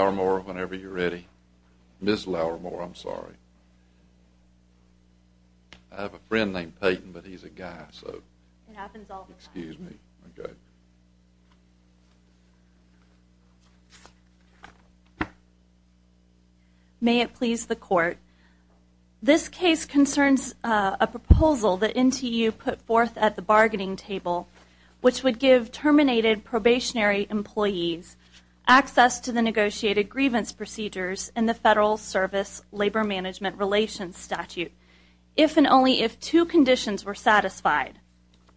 May it please the Court, this case concerns a proposal that NTU put forth at the bargaining procedures in the Federal Service Labor Management Relations statute, if and only if two conditions were satisfied.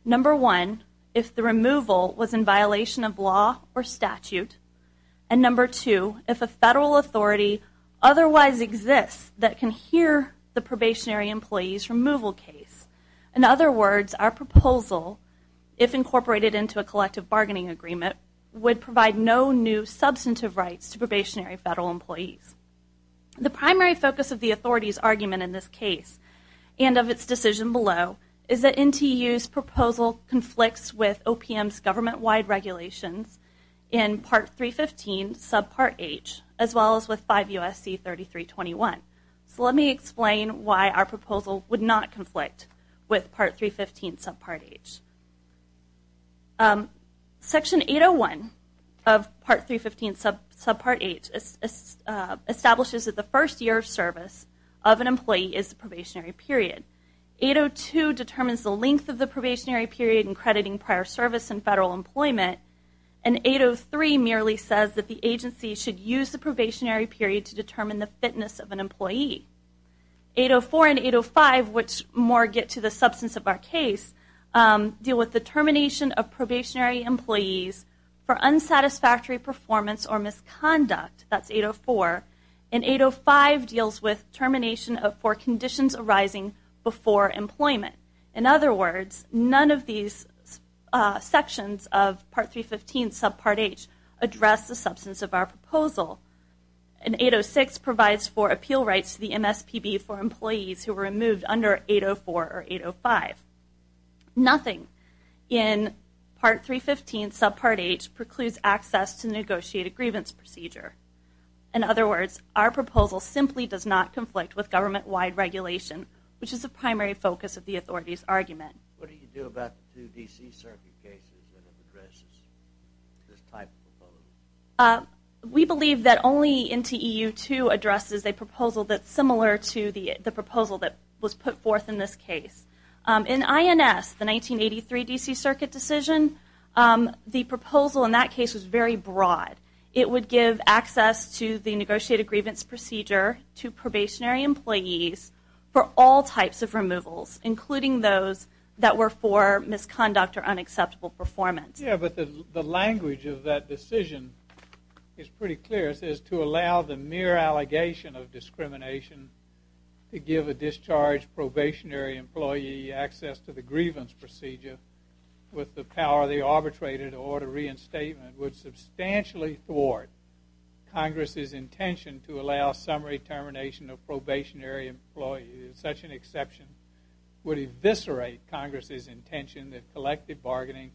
Number one, if the removal was in violation of law or statute, and number two, if a Federal authority otherwise exists that can hear the probationary employee's removal case. In other words, our proposal, if incorporated into a collective bargaining agreement, would provide no new substantive rights to probationary Federal employees. The primary focus of the authority's argument in this case, and of its decision below, is that NTU's proposal conflicts with OPM's government-wide regulations in Part 315, sub Part H, as well as with 5 U.S.C. 3321. So let me explain why our proposal would not Section 801 of Part 315, sub Part H, establishes that the first year of service of an employee is the probationary period. 802 determines the length of the probationary period in crediting prior service and Federal employment, and 803 merely says that the agency should use the probationary period to determine the fitness of an employee. 804 and 805, which more get to the substance of our case, deal with the termination of probationary employees for unsatisfactory performance or misconduct. That's 804. And 805 deals with termination of four conditions arising before employment. In other words, none of these sections of Part 315, sub Part H, address the substance of our proposal. And 806 provides for appeal rights to the MSPB for employees who were removed under 804 or 805. Nothing in Part 315, sub Part H, precludes access to the negotiated grievance procedure. In other words, our proposal simply does not conflict with government-wide regulation, which is the primary focus of the Authority's argument. What do you do about the two D.C. Circuit cases that address this type of proposal? We believe that only NTEU-2 addresses a proposal that's similar to the proposal that was put forth in this case. In INS, the 1983 D.C. Circuit decision, the proposal in that case was very broad. It would give access to the negotiated grievance procedure to probationary employees for all types of removals, including those that were for misconduct or unacceptable performance. Yeah, but the language of that decision is pretty clear. It says, to allow the mere allegation of discrimination to give a discharged probationary employee access to the grievance procedure with the power of the arbitrator to order reinstatement would substantially thwart Congress's intention to allow summary termination of probationary employees. Such an exception would eviscerate Congress's intention that collective bargaining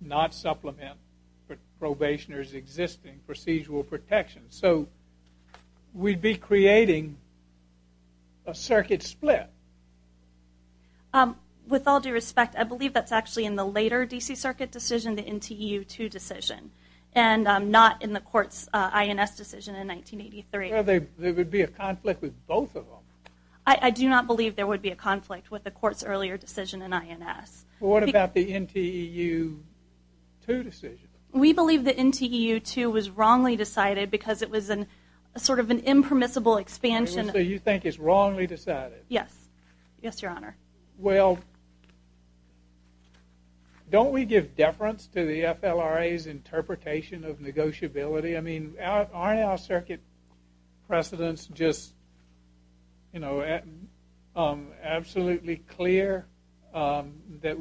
not supplement probationers' existing procedural protections. So we'd be creating a circuit split. With all due respect, I believe that's actually in the later D.C. Circuit decision, the NTEU-2 decision, and not in the court's INS decision in 1983. Well, there would be a conflict with both of them. I do not believe there would be a conflict with the court's earlier decision in INS. What about the NTEU-2 decision? We believe the NTEU-2 was wrongly decided because it was sort of an impermissible expansion. So you think it's wrongly decided? Yes. Yes, Your Honor. Well, don't we give deference to the FLRA's interpretation of negotiability? I mean, aren't our circuit precedents just absolutely clear that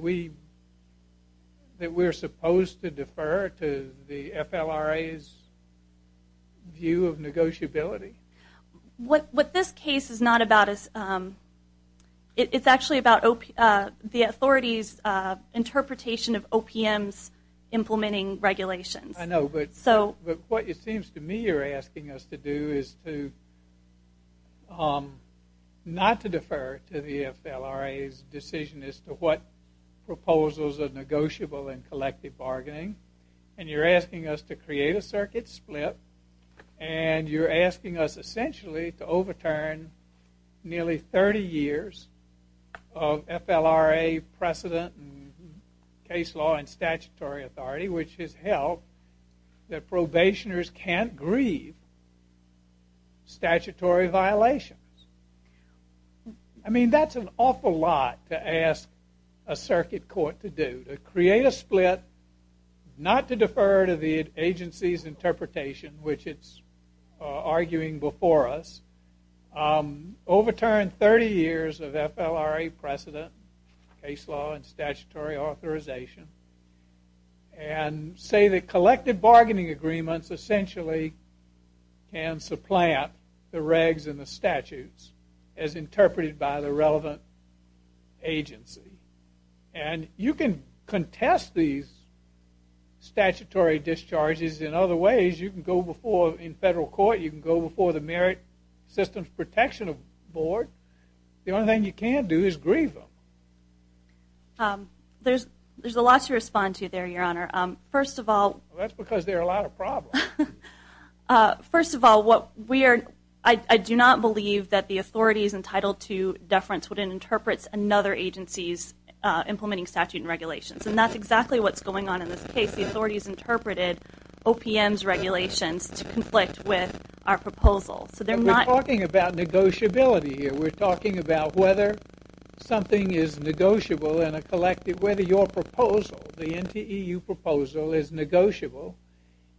we're supposed to defer to the FLRA's view of negotiability? What this case is not about is, it's actually about the authority's interpretation of OPM's implementing regulations. I know, but what it seems to me you're asking us to do is not to defer to the FLRA's decision as to what proposals are negotiable in collective bargaining, and you're asking us to create a circuit split, and you're asking us essentially to overturn nearly 30 years of FLRA precedent in case law and statutory authority, which has held that probationers can't grieve statutory violations. I mean, that's an awful lot to ask a circuit court to do, to create a split not to defer to the agency's interpretation, which it's arguing before us, overturn 30 years of FLRA precedent, case law, and statutory authorization, and say that collective bargaining agreements essentially can supplant the regs and the statutes as interpreted by the relevant agency. And you can contest these statutory discharges in other ways. You can go before, in federal court, you can go before the Merit Systems Protection Board. The only thing you can't do is grieve them. There's a lot to respond to there, Your Honor. First of all... That's because there are a lot of problems. First of all, I do not believe that the authority is entitled to deference when it interprets another agency's implementing statute and regulations, and that's exactly what's going on in this case. The authorities interpreted OPM's regulations to conflict with our proposal. So they're not... We're talking about negotiability here. We're talking about whether something is negotiable in a collective... Whether your proposal, the NTEU proposal, is negotiable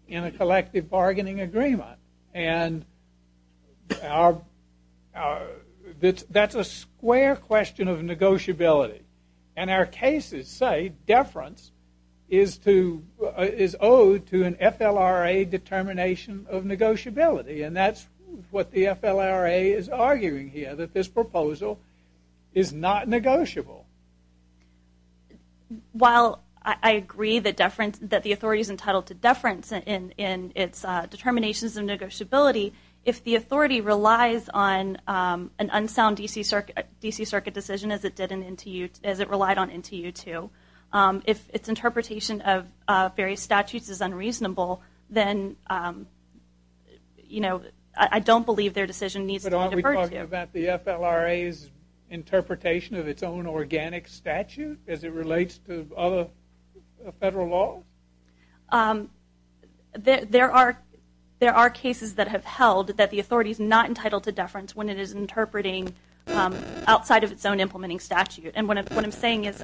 in a collective bargaining agreement. And that's a square question of negotiability. And our cases say deference is owed to an FLRA determination of negotiability. And that's what the FLRA is arguing here, that this proposal is not negotiable. While I agree that deference... That the authority is entitled to deference in its determinations of negotiability, if the authority relies on an unsound DC Circuit decision, as it did in NTEU... As it relied on NTEU too, if its interpretation of various statutes is unreasonable, then I don't believe their decision needs to be deferred to. But aren't we talking about the FLRA's interpretation of its own organic statute, as it relates to other federal law? There are cases that have held that the authority is not entitled to deference when it is interpreting outside of its own implementing statute. And what I'm saying is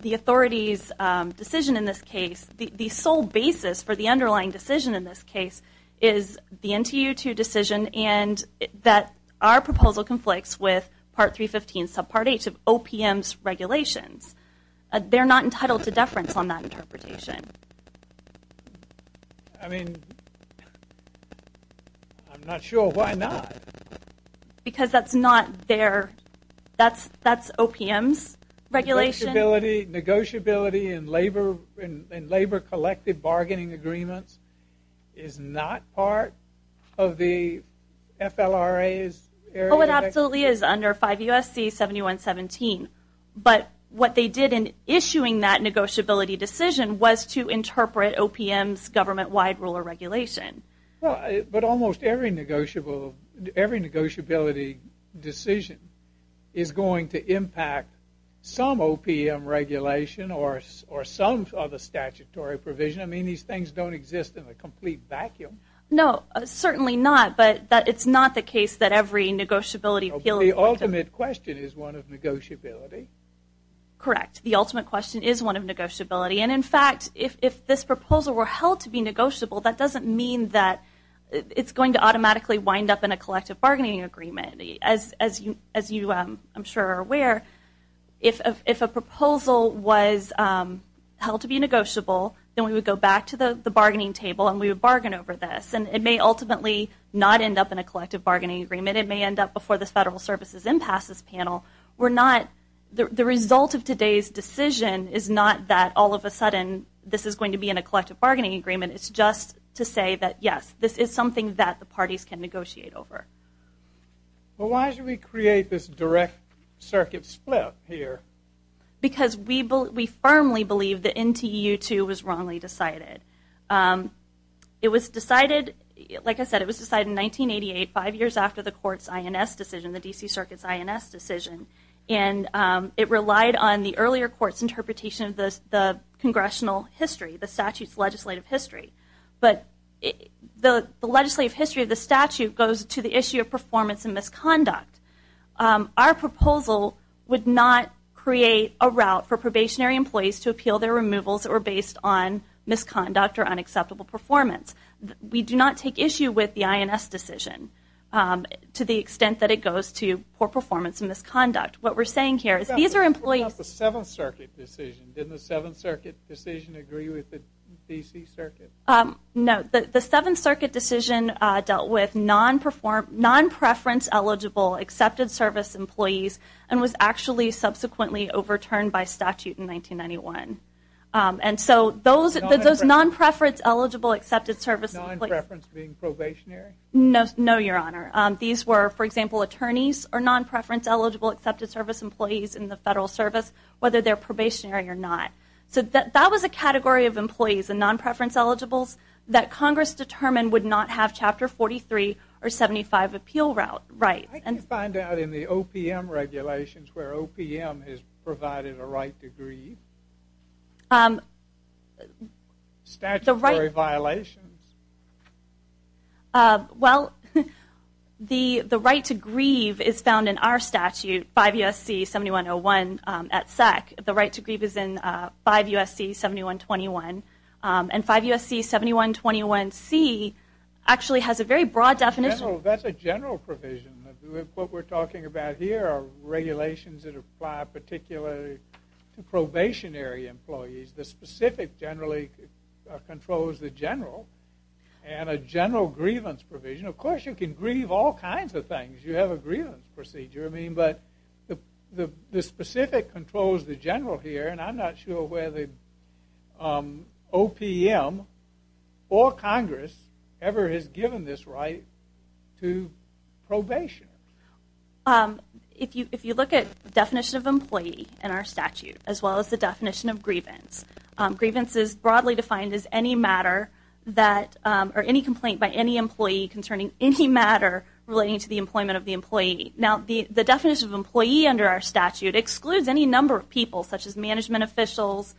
the authority's decision in this case, the sole basis for the underlying decision in this case, is the NTEU too decision. And that our proposal conflicts with Part 315 subpart H of OPM's regulations. They're not entitled to deference on that interpretation. I mean, I'm not sure why not. Because that's not their... That's OPM's regulation. Negotiability in labor-collected bargaining agreements is not part of the FLRA's area? It absolutely is under 5 U.S.C. 7117. But what they did in issuing that negotiability decision was to interpret OPM's government-wide rule of regulation. But almost every negotiability decision is going to impact some OPM regulation or some other statutory provision. I mean, these things don't exist in a complete vacuum. No, certainly not. But it's not the case that every negotiability... The ultimate question is one of negotiability. Correct. The ultimate question is one of negotiability. And in fact, if this proposal were held to be negotiable, that doesn't mean that it's going to automatically wind up in a collective bargaining agreement. As you, I'm sure, are aware, if a proposal was held to be negotiable, then we would go back to the bargaining table and we would bargain over this. And it may ultimately not end up in a collective bargaining agreement. It may end up before the Federal Services Impasses Panel. We're not... The result of today's decision is not that all of a sudden this is going to be in a collective bargaining agreement. It's just to say that, yes, this is something that the parties can negotiate over. Well, why did we create this direct circuit split here? Because we firmly believe the NTU-2 was wrongly decided. It was decided, like I said, it was decided in 1988, five years after the court's INS decision. And it relied on the earlier court's interpretation of the Congressional history, the statute's legislative history. But the legislative history of the statute goes to the issue of performance and misconduct. Our proposal would not create a route for probationary employees to appeal their removals that were based on misconduct or unacceptable performance. We do not take issue with the INS decision to the extent that it goes to poor performance and misconduct. What we're saying here is these are employees... What about the Seventh Circuit decision? Didn't the Seventh Circuit decision agree with the D.C. Circuit? No. The Seventh Circuit decision dealt with non-preference eligible accepted service employees and was actually subsequently overturned by statute in 1991. And so those non-preference eligible accepted service... Non-preference being probationary? No, Your Honor. These were, for example, attorneys or non-preference eligible accepted service employees in the Federal Service, whether they're probationary or not. So that was a category of employees and non-preference eligibles that Congress determined would not have Chapter 43 or 75 appeal right. I can find out in the OPM regulations where OPM has provided a right to grieve. Statutory violations? Well, the right to grieve is found in our statute, 5 U.S.C. 7101 at SEC. The right to grieve is in 5 U.S.C. 7121 and 5 U.S.C. 7121C actually has a very broad definition. That's a general provision. What we're talking about here are regulations that apply particularly to probationary employees. The specific generally controls the general. And a general grievance provision. Of course, you can grieve all kinds of things. You have a grievance procedure. I mean, but the specific controls the general here, and I'm not sure whether OPM or Congress ever has given this right to probation. If you look at definition of employee in our statute, as well as the definition of grievance, grievance is broadly defined as any matter that or any complaint by any employee concerning any matter relating to the employment of the employee. Now, the definition of employee under our statute excludes any number of people, such as management officials,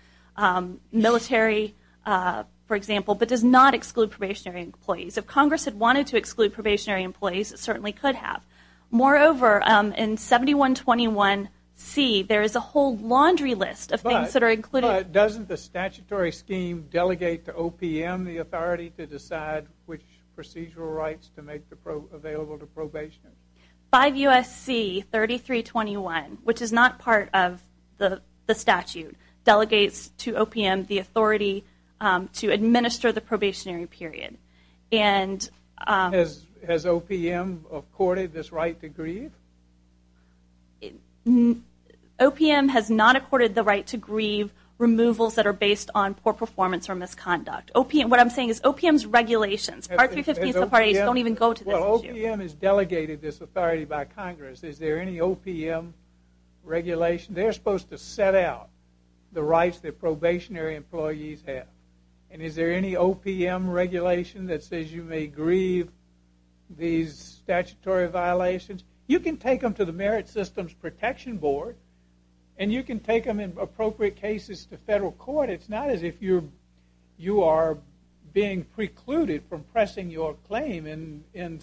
military, for example, but does not exclude probationary employees. If Congress had wanted to exclude probationary employees, it certainly could have. Moreover, in 7121C, there is a whole laundry list of things that are included. Doesn't the statutory scheme delegate to OPM the authority to decide which procedural rights to make available to probation? 5 U.S.C. 3321, which is not part of the statute, delegates to OPM the authority to administer the probationary period. And has OPM accorded this right to grieve? OPM has not accorded the right to grieve removals that are based on poor performance or misconduct. What I'm saying is OPM's regulations, Part 315, don't even go to this issue. Well, OPM has delegated this authority by Congress. Is there any OPM regulation? They're supposed to set out the rights that probationary employees have. And is there any OPM regulation that says you may grieve these statutory violations? You can take them to the Merit Systems Protection Board, and you can take them in appropriate cases to federal court. It's not as if you are being precluded from pressing your claim in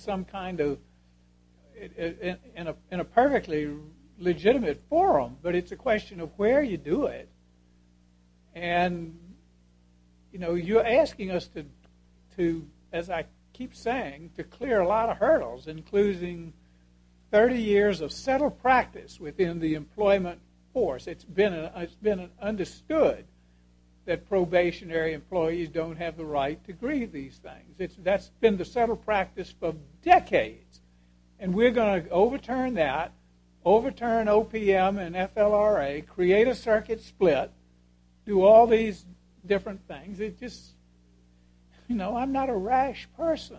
a perfectly legitimate forum. But it's a question of where you do it. And you're asking us to, as I keep saying, to clear a lot of hurdles, including 30 years of settled practice within the employment force. It's been understood that probationary employees don't have the right to grieve these things. That's been the settled practice for decades. And we're going to overturn that, overturn OPM and FLRA, create a circuit split, do all these different things. It's just, you know, I'm not a rash person.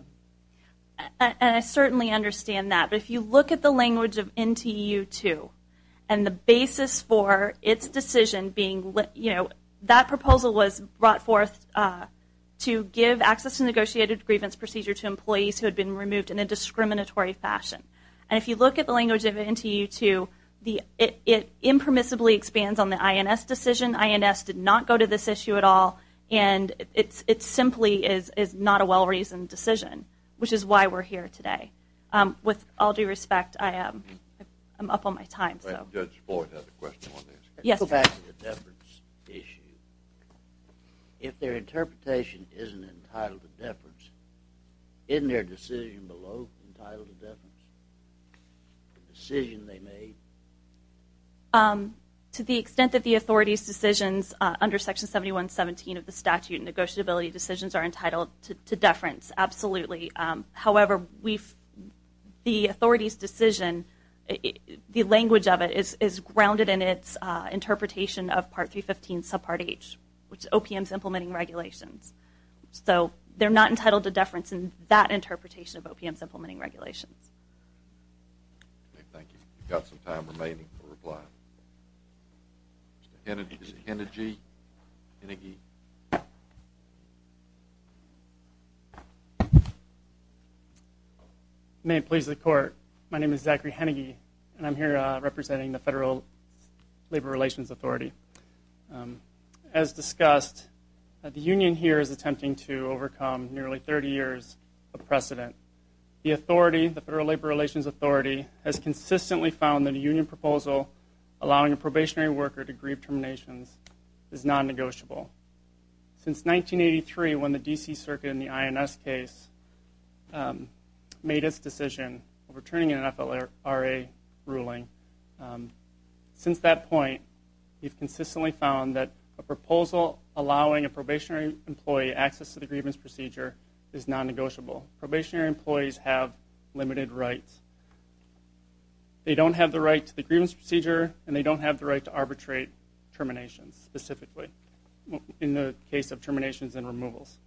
And I certainly understand that. But if you look at the language of NTU-2 and the basis for its decision being, you know, that proposal was brought forth to give access to negotiated grievance procedure to employees who had been removed in a discriminatory fashion. And if you look at the language of NTU-2, it impermissibly expands on the INS decision. INS did not go to this issue at all. And it simply is not a well-reasoned decision, which is why we're here today. With all due respect, I'm up on my time. I think Judge Boyd has a question on this. Yes. The fact of the deference issue, if their interpretation isn't entitled to deference, isn't their decision below entitled to deference, the decision they made? To the extent that the authority's decisions under Section 7117 of the statute, negotiability decisions are entitled to deference, absolutely. However, the authority's decision, the language of it is grounded in its interpretation of Part 315, subpart H, which is OPM's implementing regulations. So they're not entitled to deference in that interpretation of OPM's implementing regulations. Okay. Thank you. We've got some time remaining for reply. Mr. Hennigy. Is it Hennigy? Hennigy? May it please the Court, my name is Zachary Hennigy, and I'm here representing the Federal Labor Relations Authority. As discussed, the union here is attempting to overcome nearly 30 years of precedent. The authority, the Federal Labor Relations Authority, has consistently found that a union proposal allowing a probationary worker to grieve terminations is non-negotiable. Since 1983, when the D.C. Circuit in the INS case made its decision of returning an FLRA ruling, since that point, we've consistently found that a proposal allowing a probationary employee access to the grievance procedure is non-negotiable. Probationary employees have limited rights. They don't have the right to the grievance procedure, and they don't have the right to arbitrate terminations specifically, in the case of terminations and removals.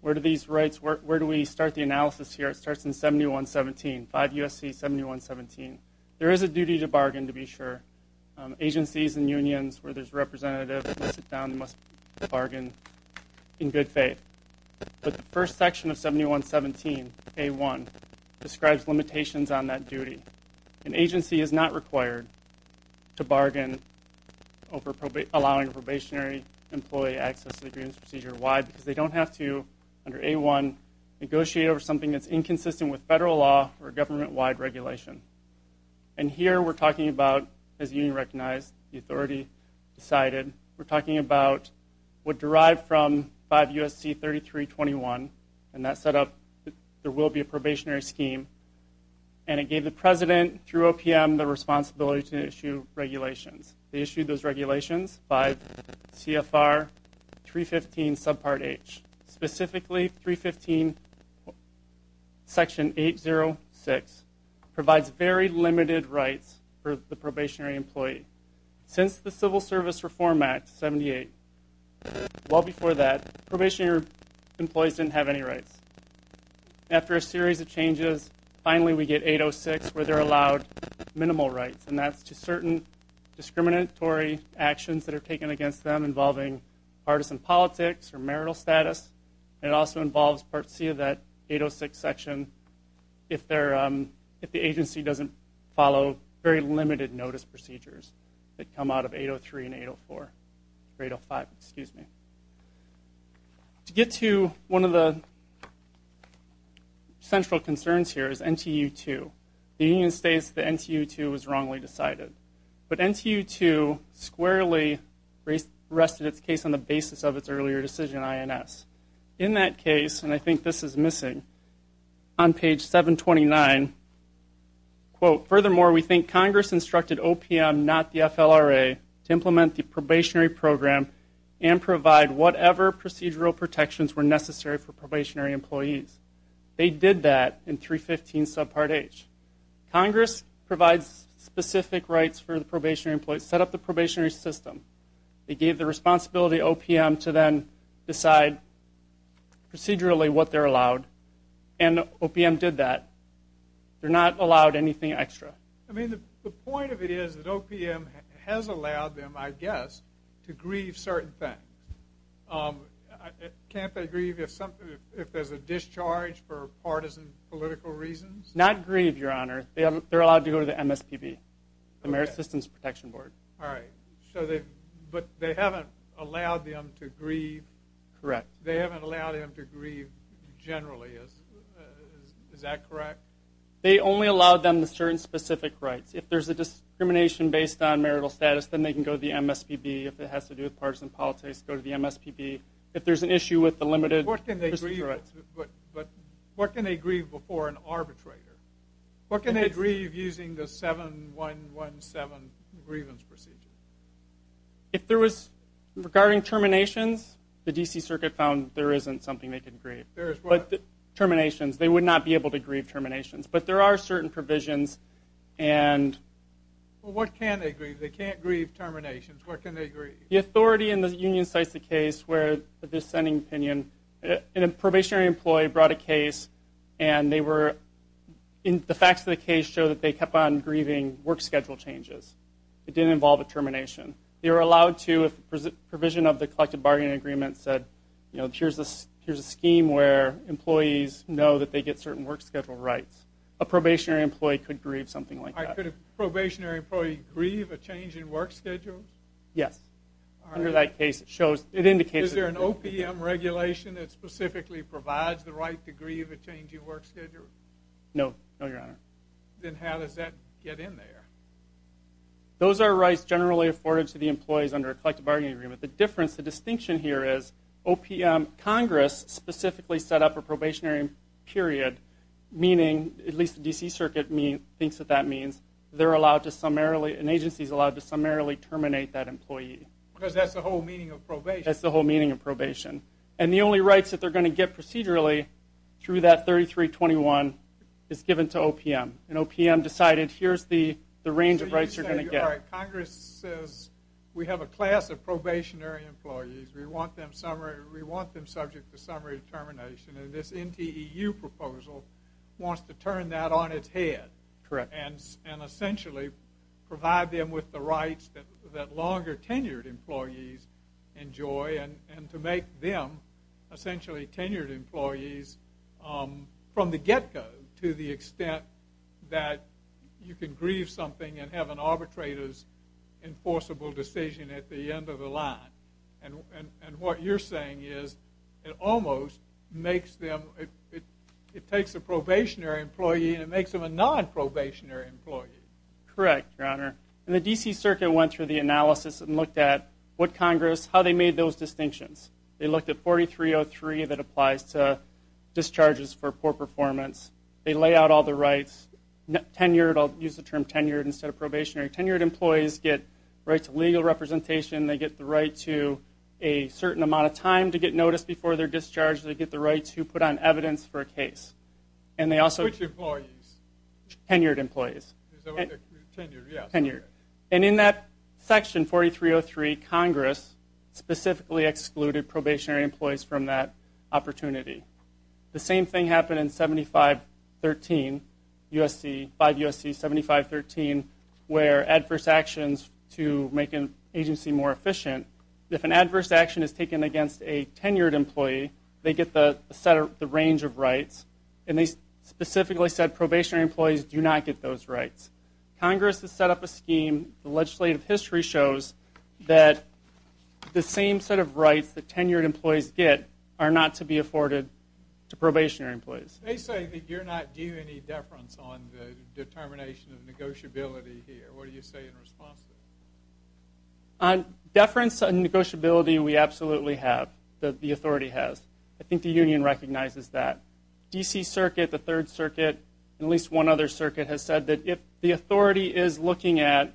Where do these rights, where do we start the analysis here? It starts in 7117, 5 U.S.C. 7117. There is a duty to bargain, to be sure. Agencies and unions where there's representatives must sit down, must bargain in good faith. But the first section of 7117, A1, describes limitations on that duty. An agency is not required to bargain over allowing a probationary employee access to the grievance procedure. Why? Because they don't have to, under A1, negotiate over something that's inconsistent with federal law or government-wide regulation. And here we're talking about, as you recognize, the authority decided, we're talking about what derived from 5 U.S.C. 3321, and that set up, there will be a probationary scheme. And it gave the president, through OPM, the responsibility to issue regulations. They issued those regulations, 5 CFR 315 subpart H. Specifically, 315 section 806 provides very limited rights for the probationary employee. Since the Civil Service Reform Act, 78, well before that, probationary employees didn't have any rights. After a series of changes, finally we get 806, where they're allowed minimal rights. And that's to certain discriminatory actions that are taken against them involving partisan politics or marital status. And it also involves Part C of that 806 section if the agency doesn't follow very limited notice procedures. They come out of 803 and 804, or 805, excuse me. To get to one of the central concerns here is NTU 2. The union states that NTU 2 was wrongly decided. But NTU 2 squarely rested its case on the basis of its earlier decision, INS. In that case, and I think this is missing, on page 729, quote, furthermore, we think Congress instructed OPM, not the FLRA, to implement the probationary program and provide whatever procedural protections were necessary for probationary employees. They did that in 315 subpart H. Congress provides specific rights for the probationary employee. Set up the probationary system. They gave the responsibility to OPM to then decide procedurally what they're allowed. And OPM did that. They're not allowed anything extra. I mean, the point of it is that OPM has allowed them, I guess, to grieve certain things. Can't they grieve if there's a discharge for partisan political reasons? Not grieve, Your Honor. They're allowed to go to the MSPB, the Merit Systems Protection Board. All right. So they, but they haven't allowed them to grieve. Correct. They haven't allowed them to grieve generally. Is that correct? They only allow them the certain specific rights. If there's a discrimination based on marital status, then they can go to the MSPB. If it has to do with partisan politics, go to the MSPB. If there's an issue with the limited... What can they grieve before an arbitrator? What can they grieve using the 7117 grievance procedure? If there was, regarding terminations, the DC Circuit found there isn't something they can grieve. There is what? Terminations. They would not be able to grieve terminations. But there are certain provisions and... What can they grieve? They can't grieve terminations. What can they grieve? The authority in the union cites the case where the dissenting opinion, a probationary employee brought a case and they were... The facts of the case show that they kept on grieving work schedule changes. It didn't involve a termination. They were allowed to, if provision of the collective bargaining agreement said, you know, that they get certain work schedule rights. A probationary employee could grieve something like that. Could a probationary employee grieve a change in work schedule? Yes. Under that case, it shows, it indicates... Is there an OPM regulation that specifically provides the right to grieve a change in work schedule? No, no, Your Honor. Then how does that get in there? Those are rights generally afforded to the employees under a collective bargaining agreement. The difference, the distinction here is OPM, Congress specifically set up a probationary period, meaning, at least the D.C. Circuit thinks that that means they're allowed to summarily, an agency's allowed to summarily terminate that employee. Because that's the whole meaning of probation. That's the whole meaning of probation. And the only rights that they're going to get procedurally through that 3321 is given to OPM. And OPM decided, here's the range of rights you're going to get. Congress says, we have a class of probationary employees. We want them summary, we want them subject to summary termination. And this NTEU proposal wants to turn that on its head. Correct. And essentially provide them with the rights that longer tenured employees enjoy and to make them essentially tenured employees from the get-go to the extent that you can grieve something and have an arbitrator's enforceable decision at the end of the line. And what you're saying is it almost makes them, it takes a probationary employee and it makes them a non-probationary employee. Correct, Your Honor. And the D.C. Circuit went through the analysis and looked at what Congress, how they made those distinctions. They looked at 4303 that applies to discharges for poor performance. They lay out all the rights. Tenured, I'll use the term tenured instead of probationary. Tenured employees get rights of legal representation. They get the right to a certain amount of time to get noticed before they're discharged. They get the right to put on evidence for a case. And they also- Which employees? Tenured employees. Is that what they're, tenured, yeah. Tenured. And in that section, 4303, Congress specifically excluded probationary employees from that opportunity. The same thing happened in 7513, 5 U.S.C. 7513, where adverse actions to make an agency more efficient. If an adverse action is taken against a tenured employee, they get the range of rights. And they specifically said probationary employees do not get those rights. Congress has set up a scheme. The legislative history shows that the same set of rights that tenured employees get are not to be afforded to probationary employees. They say that you're not due any deference on the determination of negotiability here. What do you say in response to that? On deference and negotiability, we absolutely have, the authority has. I think the union recognizes that. D.C. Circuit, the Third Circuit, and at least one other circuit has said that if the authority is looking at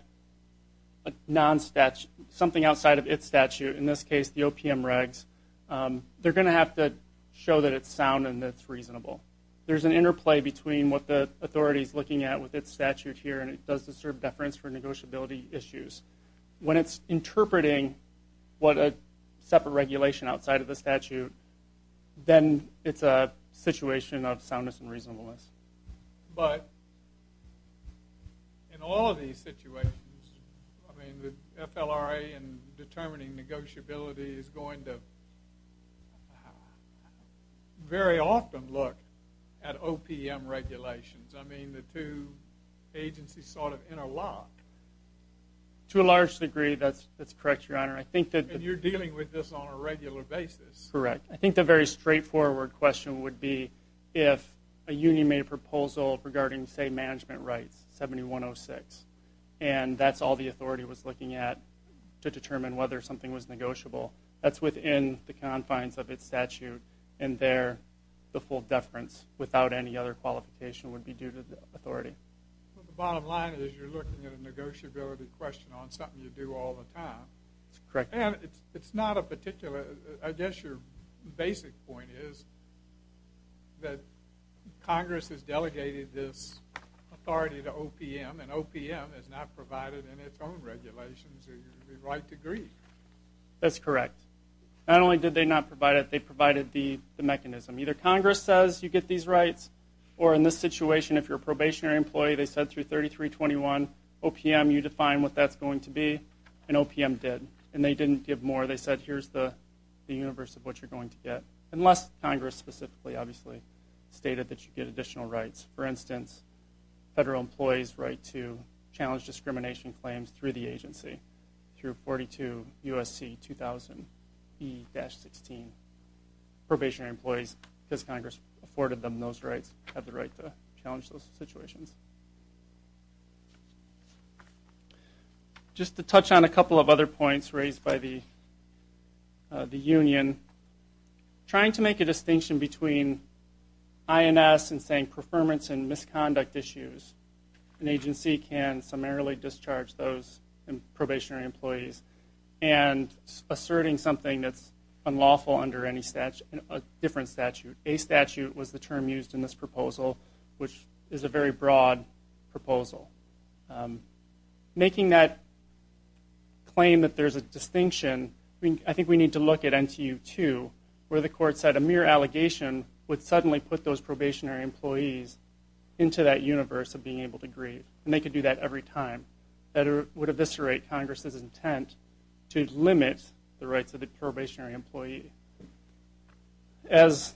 a non-statute, something outside of its statute, in this case, the OPM regs, they're going to have to show that it's sound and that it's reasonable. There's an interplay between what the authority is looking at with its statute here and it does disturb deference for negotiability issues. When it's interpreting what a separate regulation outside of the statute, then it's a situation of soundness and reasonableness. But in all of these situations, I mean, the FLRA in determining negotiability is going to very often look at OPM regulations. I mean, the two agencies sort of interlock. To a large degree, that's correct, Your Honor. I think that... You're dealing with this on a regular basis. Correct. I think the very straightforward question would be if a union made a proposal regarding, say, management rights, 7106, and that's all the authority was looking at to determine whether something was negotiable, that's within the confines of its statute, and there the full deference without any other qualification would be due to the authority. Well, the bottom line is you're looking at a negotiability question on something you do all the time. Correct. It's not a particular... I guess your basic point is that Congress has delegated this authority to OPM, and OPM has not provided in its own regulations the right to agree. That's correct. Not only did they not provide it, they provided the mechanism. Either Congress says you get these rights, or in this situation, if you're a probationary employee, they said through 3321, OPM, you define what that's going to be, and OPM did, and they didn't give more. They said here's the universe of what you're going to get, unless Congress specifically, obviously, stated that you get additional rights. For instance, federal employees' right to challenge discrimination claims through the agency, through 42 U.S.C. 2000 E-16. Probationary employees, because Congress afforded them those rights, have the right to challenge those situations. Just to touch on a couple of other points raised by the union, trying to make a distinction between INS and saying performance and misconduct issues, an agency can summarily discharge those probationary employees, and asserting something that's unlawful under a different statute. A statute was the term used in this proposal, which is a very broad term, but it's a very broad term. Broad proposal. Making that claim that there's a distinction, I think we need to look at NTU-2, where the court said a mere allegation would suddenly put those probationary employees into that universe of being able to grieve, and they could do that every time. That would eviscerate Congress's intent to limit the rights of the probationary employee. As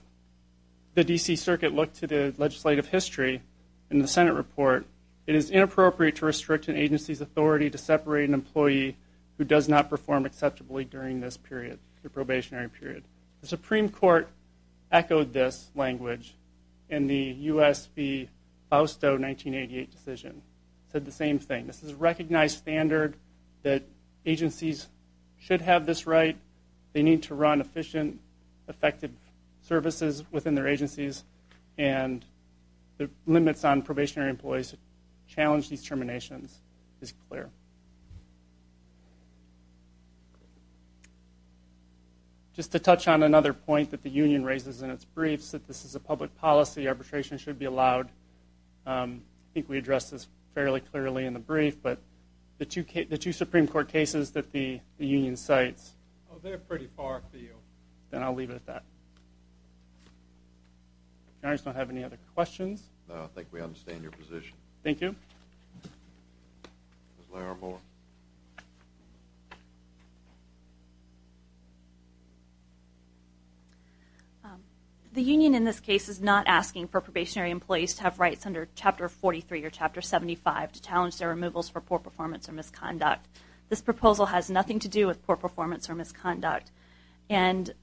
the D.C. Circuit looked to the legislative history in the Senate report, it is inappropriate to restrict an agency's authority to separate an employee who does not perform acceptably during this period, the probationary period. The Supreme Court echoed this language in the U.S. v. Fausto 1988 decision. Said the same thing. This is a recognized standard that agencies should have this right. They need to run efficient, effective services within their agencies, and the limits on probationary employees who challenge these terminations is clear. Just to touch on another point that the union raises in its briefs, that this is a public policy, arbitration should be allowed. I think we addressed this fairly clearly in the brief, but the two Supreme Court cases that the union cites, they're pretty far afield, and I'll leave it at that. You guys don't have any other questions? No, I think we understand your position. Thank you. The union in this case is not asking for probationary employees to have rights under Chapter 43 or Chapter 75 to challenge their removals for poor performance or misconduct. This proposal has nothing to do with poor performance or misconduct, and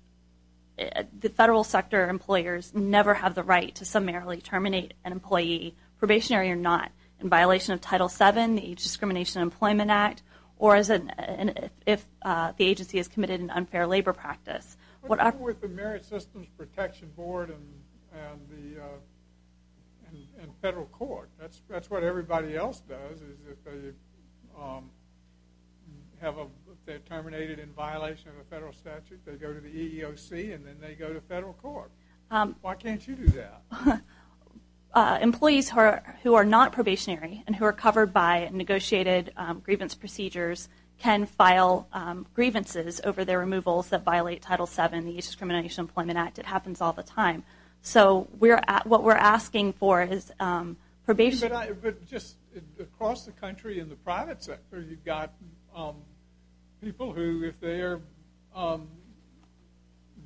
the federal sector employers never have the right to summarily terminate an employee, probationary or not, in violation of Title VII, the Age Discrimination and Employment Act, or if the agency has committed an unfair labor practice. What happened with the Merit Systems Protection Board and the federal court, that's what everybody else does, is if they're terminated in violation of a federal statute, they go to the EEOC and then they go to federal court. Why can't you do that? Employees who are not probationary and who are covered by negotiated grievance procedures can file grievances over their removals that violate Title VII, the Age Discrimination and Employment Act. It happens all the time. So what we're asking for is probationary. Just across the country in the private sector, you've got people who, if they are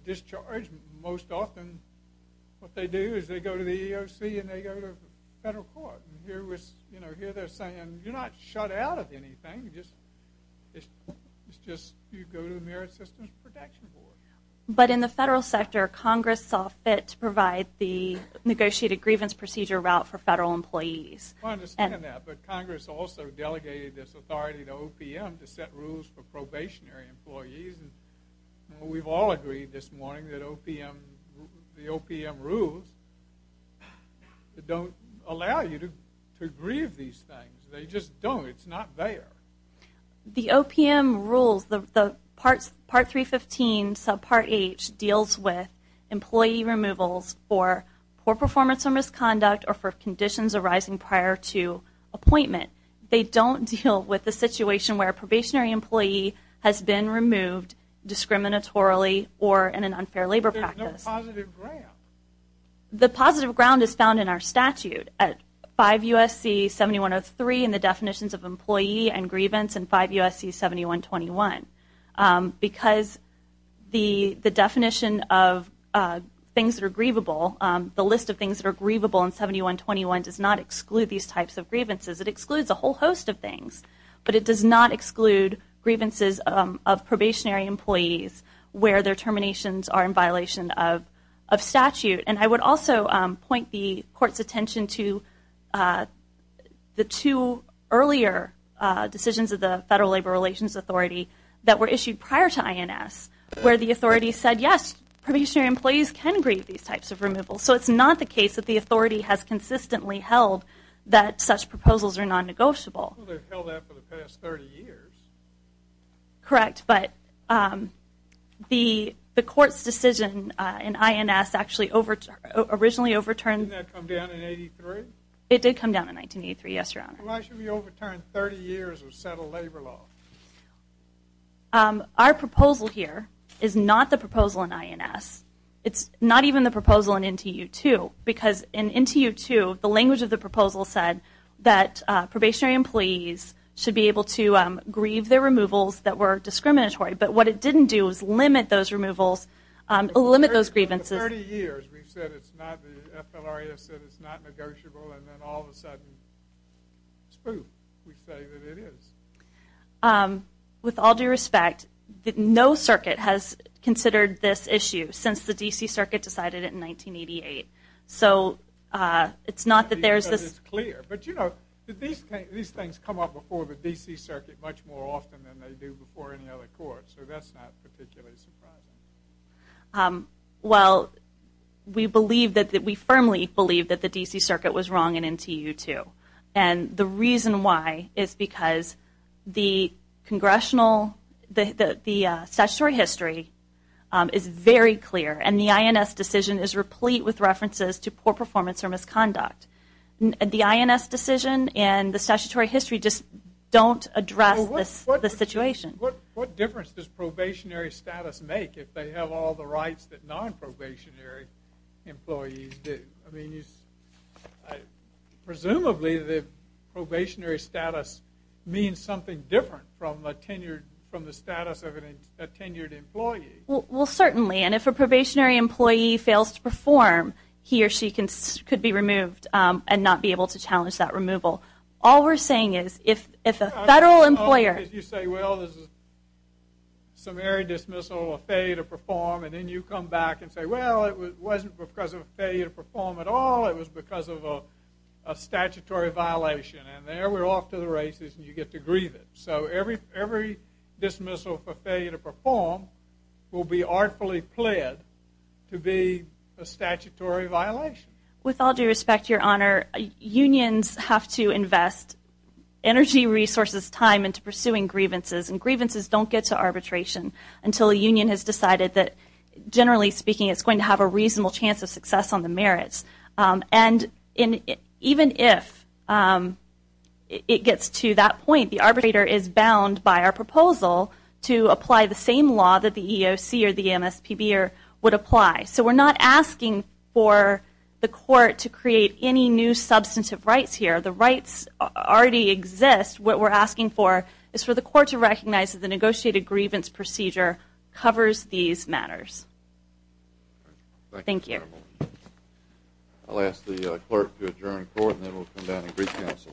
discharged, most often what they do is they go to the EEOC and they go to federal court. Here they're saying, you're not shut out of anything, it's just you go to the Merit Systems Protection Board. But in the federal sector, Congress saw fit to provide the negotiated grievance procedure route for federal employees. I understand that, but Congress also delegated this authority to OPM to set rules for probationary employees. And we've all agreed this morning that the OPM rules don't allow you to grieve these things. They just don't. It's not there. The OPM rules, the Part 315, Subpart H, deals with employee removals for poor performance or misconduct or for conditions arising prior to appointment. They don't deal with the situation where a probationary employee has been removed discriminatorily or in an unfair labor practice. The positive ground is found in our statute at 5 U.S.C. 7103 in the definitions of employee and grievance and 5 U.S.C. 7121. Because the definition of things that are grievable, the list of things that are grievable in 7121 does not exclude these types of grievances. It excludes a whole host of things. But it does not exclude grievances of probationary employees where their terminations are in violation of statute. And I would also point the Court's attention to the two earlier decisions of the Federal Labor Relations Authority that were issued prior to INS where the authorities said, yes, probationary employees can grieve these types of removals. So it's not the case that the authority has consistently held that such proposals are non-negotiable. Well, they've held that for the past 30 years. Correct. But the Court's decision in INS actually originally overturned... Didn't that come down in 1983? It did come down in 1983, yes, Your Honor. Why should we overturn 30 years of settled labor law? Our proposal here is not the proposal in INS. It's not even the proposal in NTU-2. Because in NTU-2, the language of the proposal said that probationary employees should be able to grieve their removals that were discriminatory. But what it didn't do is limit those removals, limit those grievances... We've said it's not the FLRA has said it's not negotiable. And then all of a sudden, spoof. We say that it is. With all due respect, no circuit has considered this issue since the D.C. Circuit decided it in 1988. So it's not that there's this... Because it's clear. But, you know, these things come up before the D.C. Circuit much more often than they do before any other court. So that's not particularly surprising. Um, well, we believe that we firmly believe that the D.C. Circuit was wrong in NTU-2. And the reason why is because the congressional, the statutory history is very clear. And the INS decision is replete with references to poor performance or misconduct. The INS decision and the statutory history just don't address this situation. What difference does probationary status make if they have all the rights that non-probationary employees do? I mean, presumably the probationary status means something different from a tenured, from the status of a tenured employee. Well, certainly. And if a probationary employee fails to perform, he or she could be removed and not be able to challenge that removal. All we're saying is if a federal employer... Well, this is a summary dismissal of failure to perform. And then you come back and say, well, it wasn't because of failure to perform at all. It was because of a statutory violation. And there we're off to the races and you get to grieve it. So every dismissal for failure to perform will be artfully pled to be a statutory violation. With all due respect, Your Honor, unions have to invest energy resources, time into pursuing grievances. And grievances don't get to arbitration until a union has decided that, generally speaking, it's going to have a reasonable chance of success on the merits. And even if it gets to that point, the arbitrator is bound by our proposal to apply the same law that the EEOC or the MSPB would apply. So we're not asking for the court to create any new substantive rights here. The rights already exist. What we're asking for is for the court to recognize that the negotiated grievance procedure covers these matters. Thank you. I'll ask the clerk to adjourn court and then we'll come down and recounsel.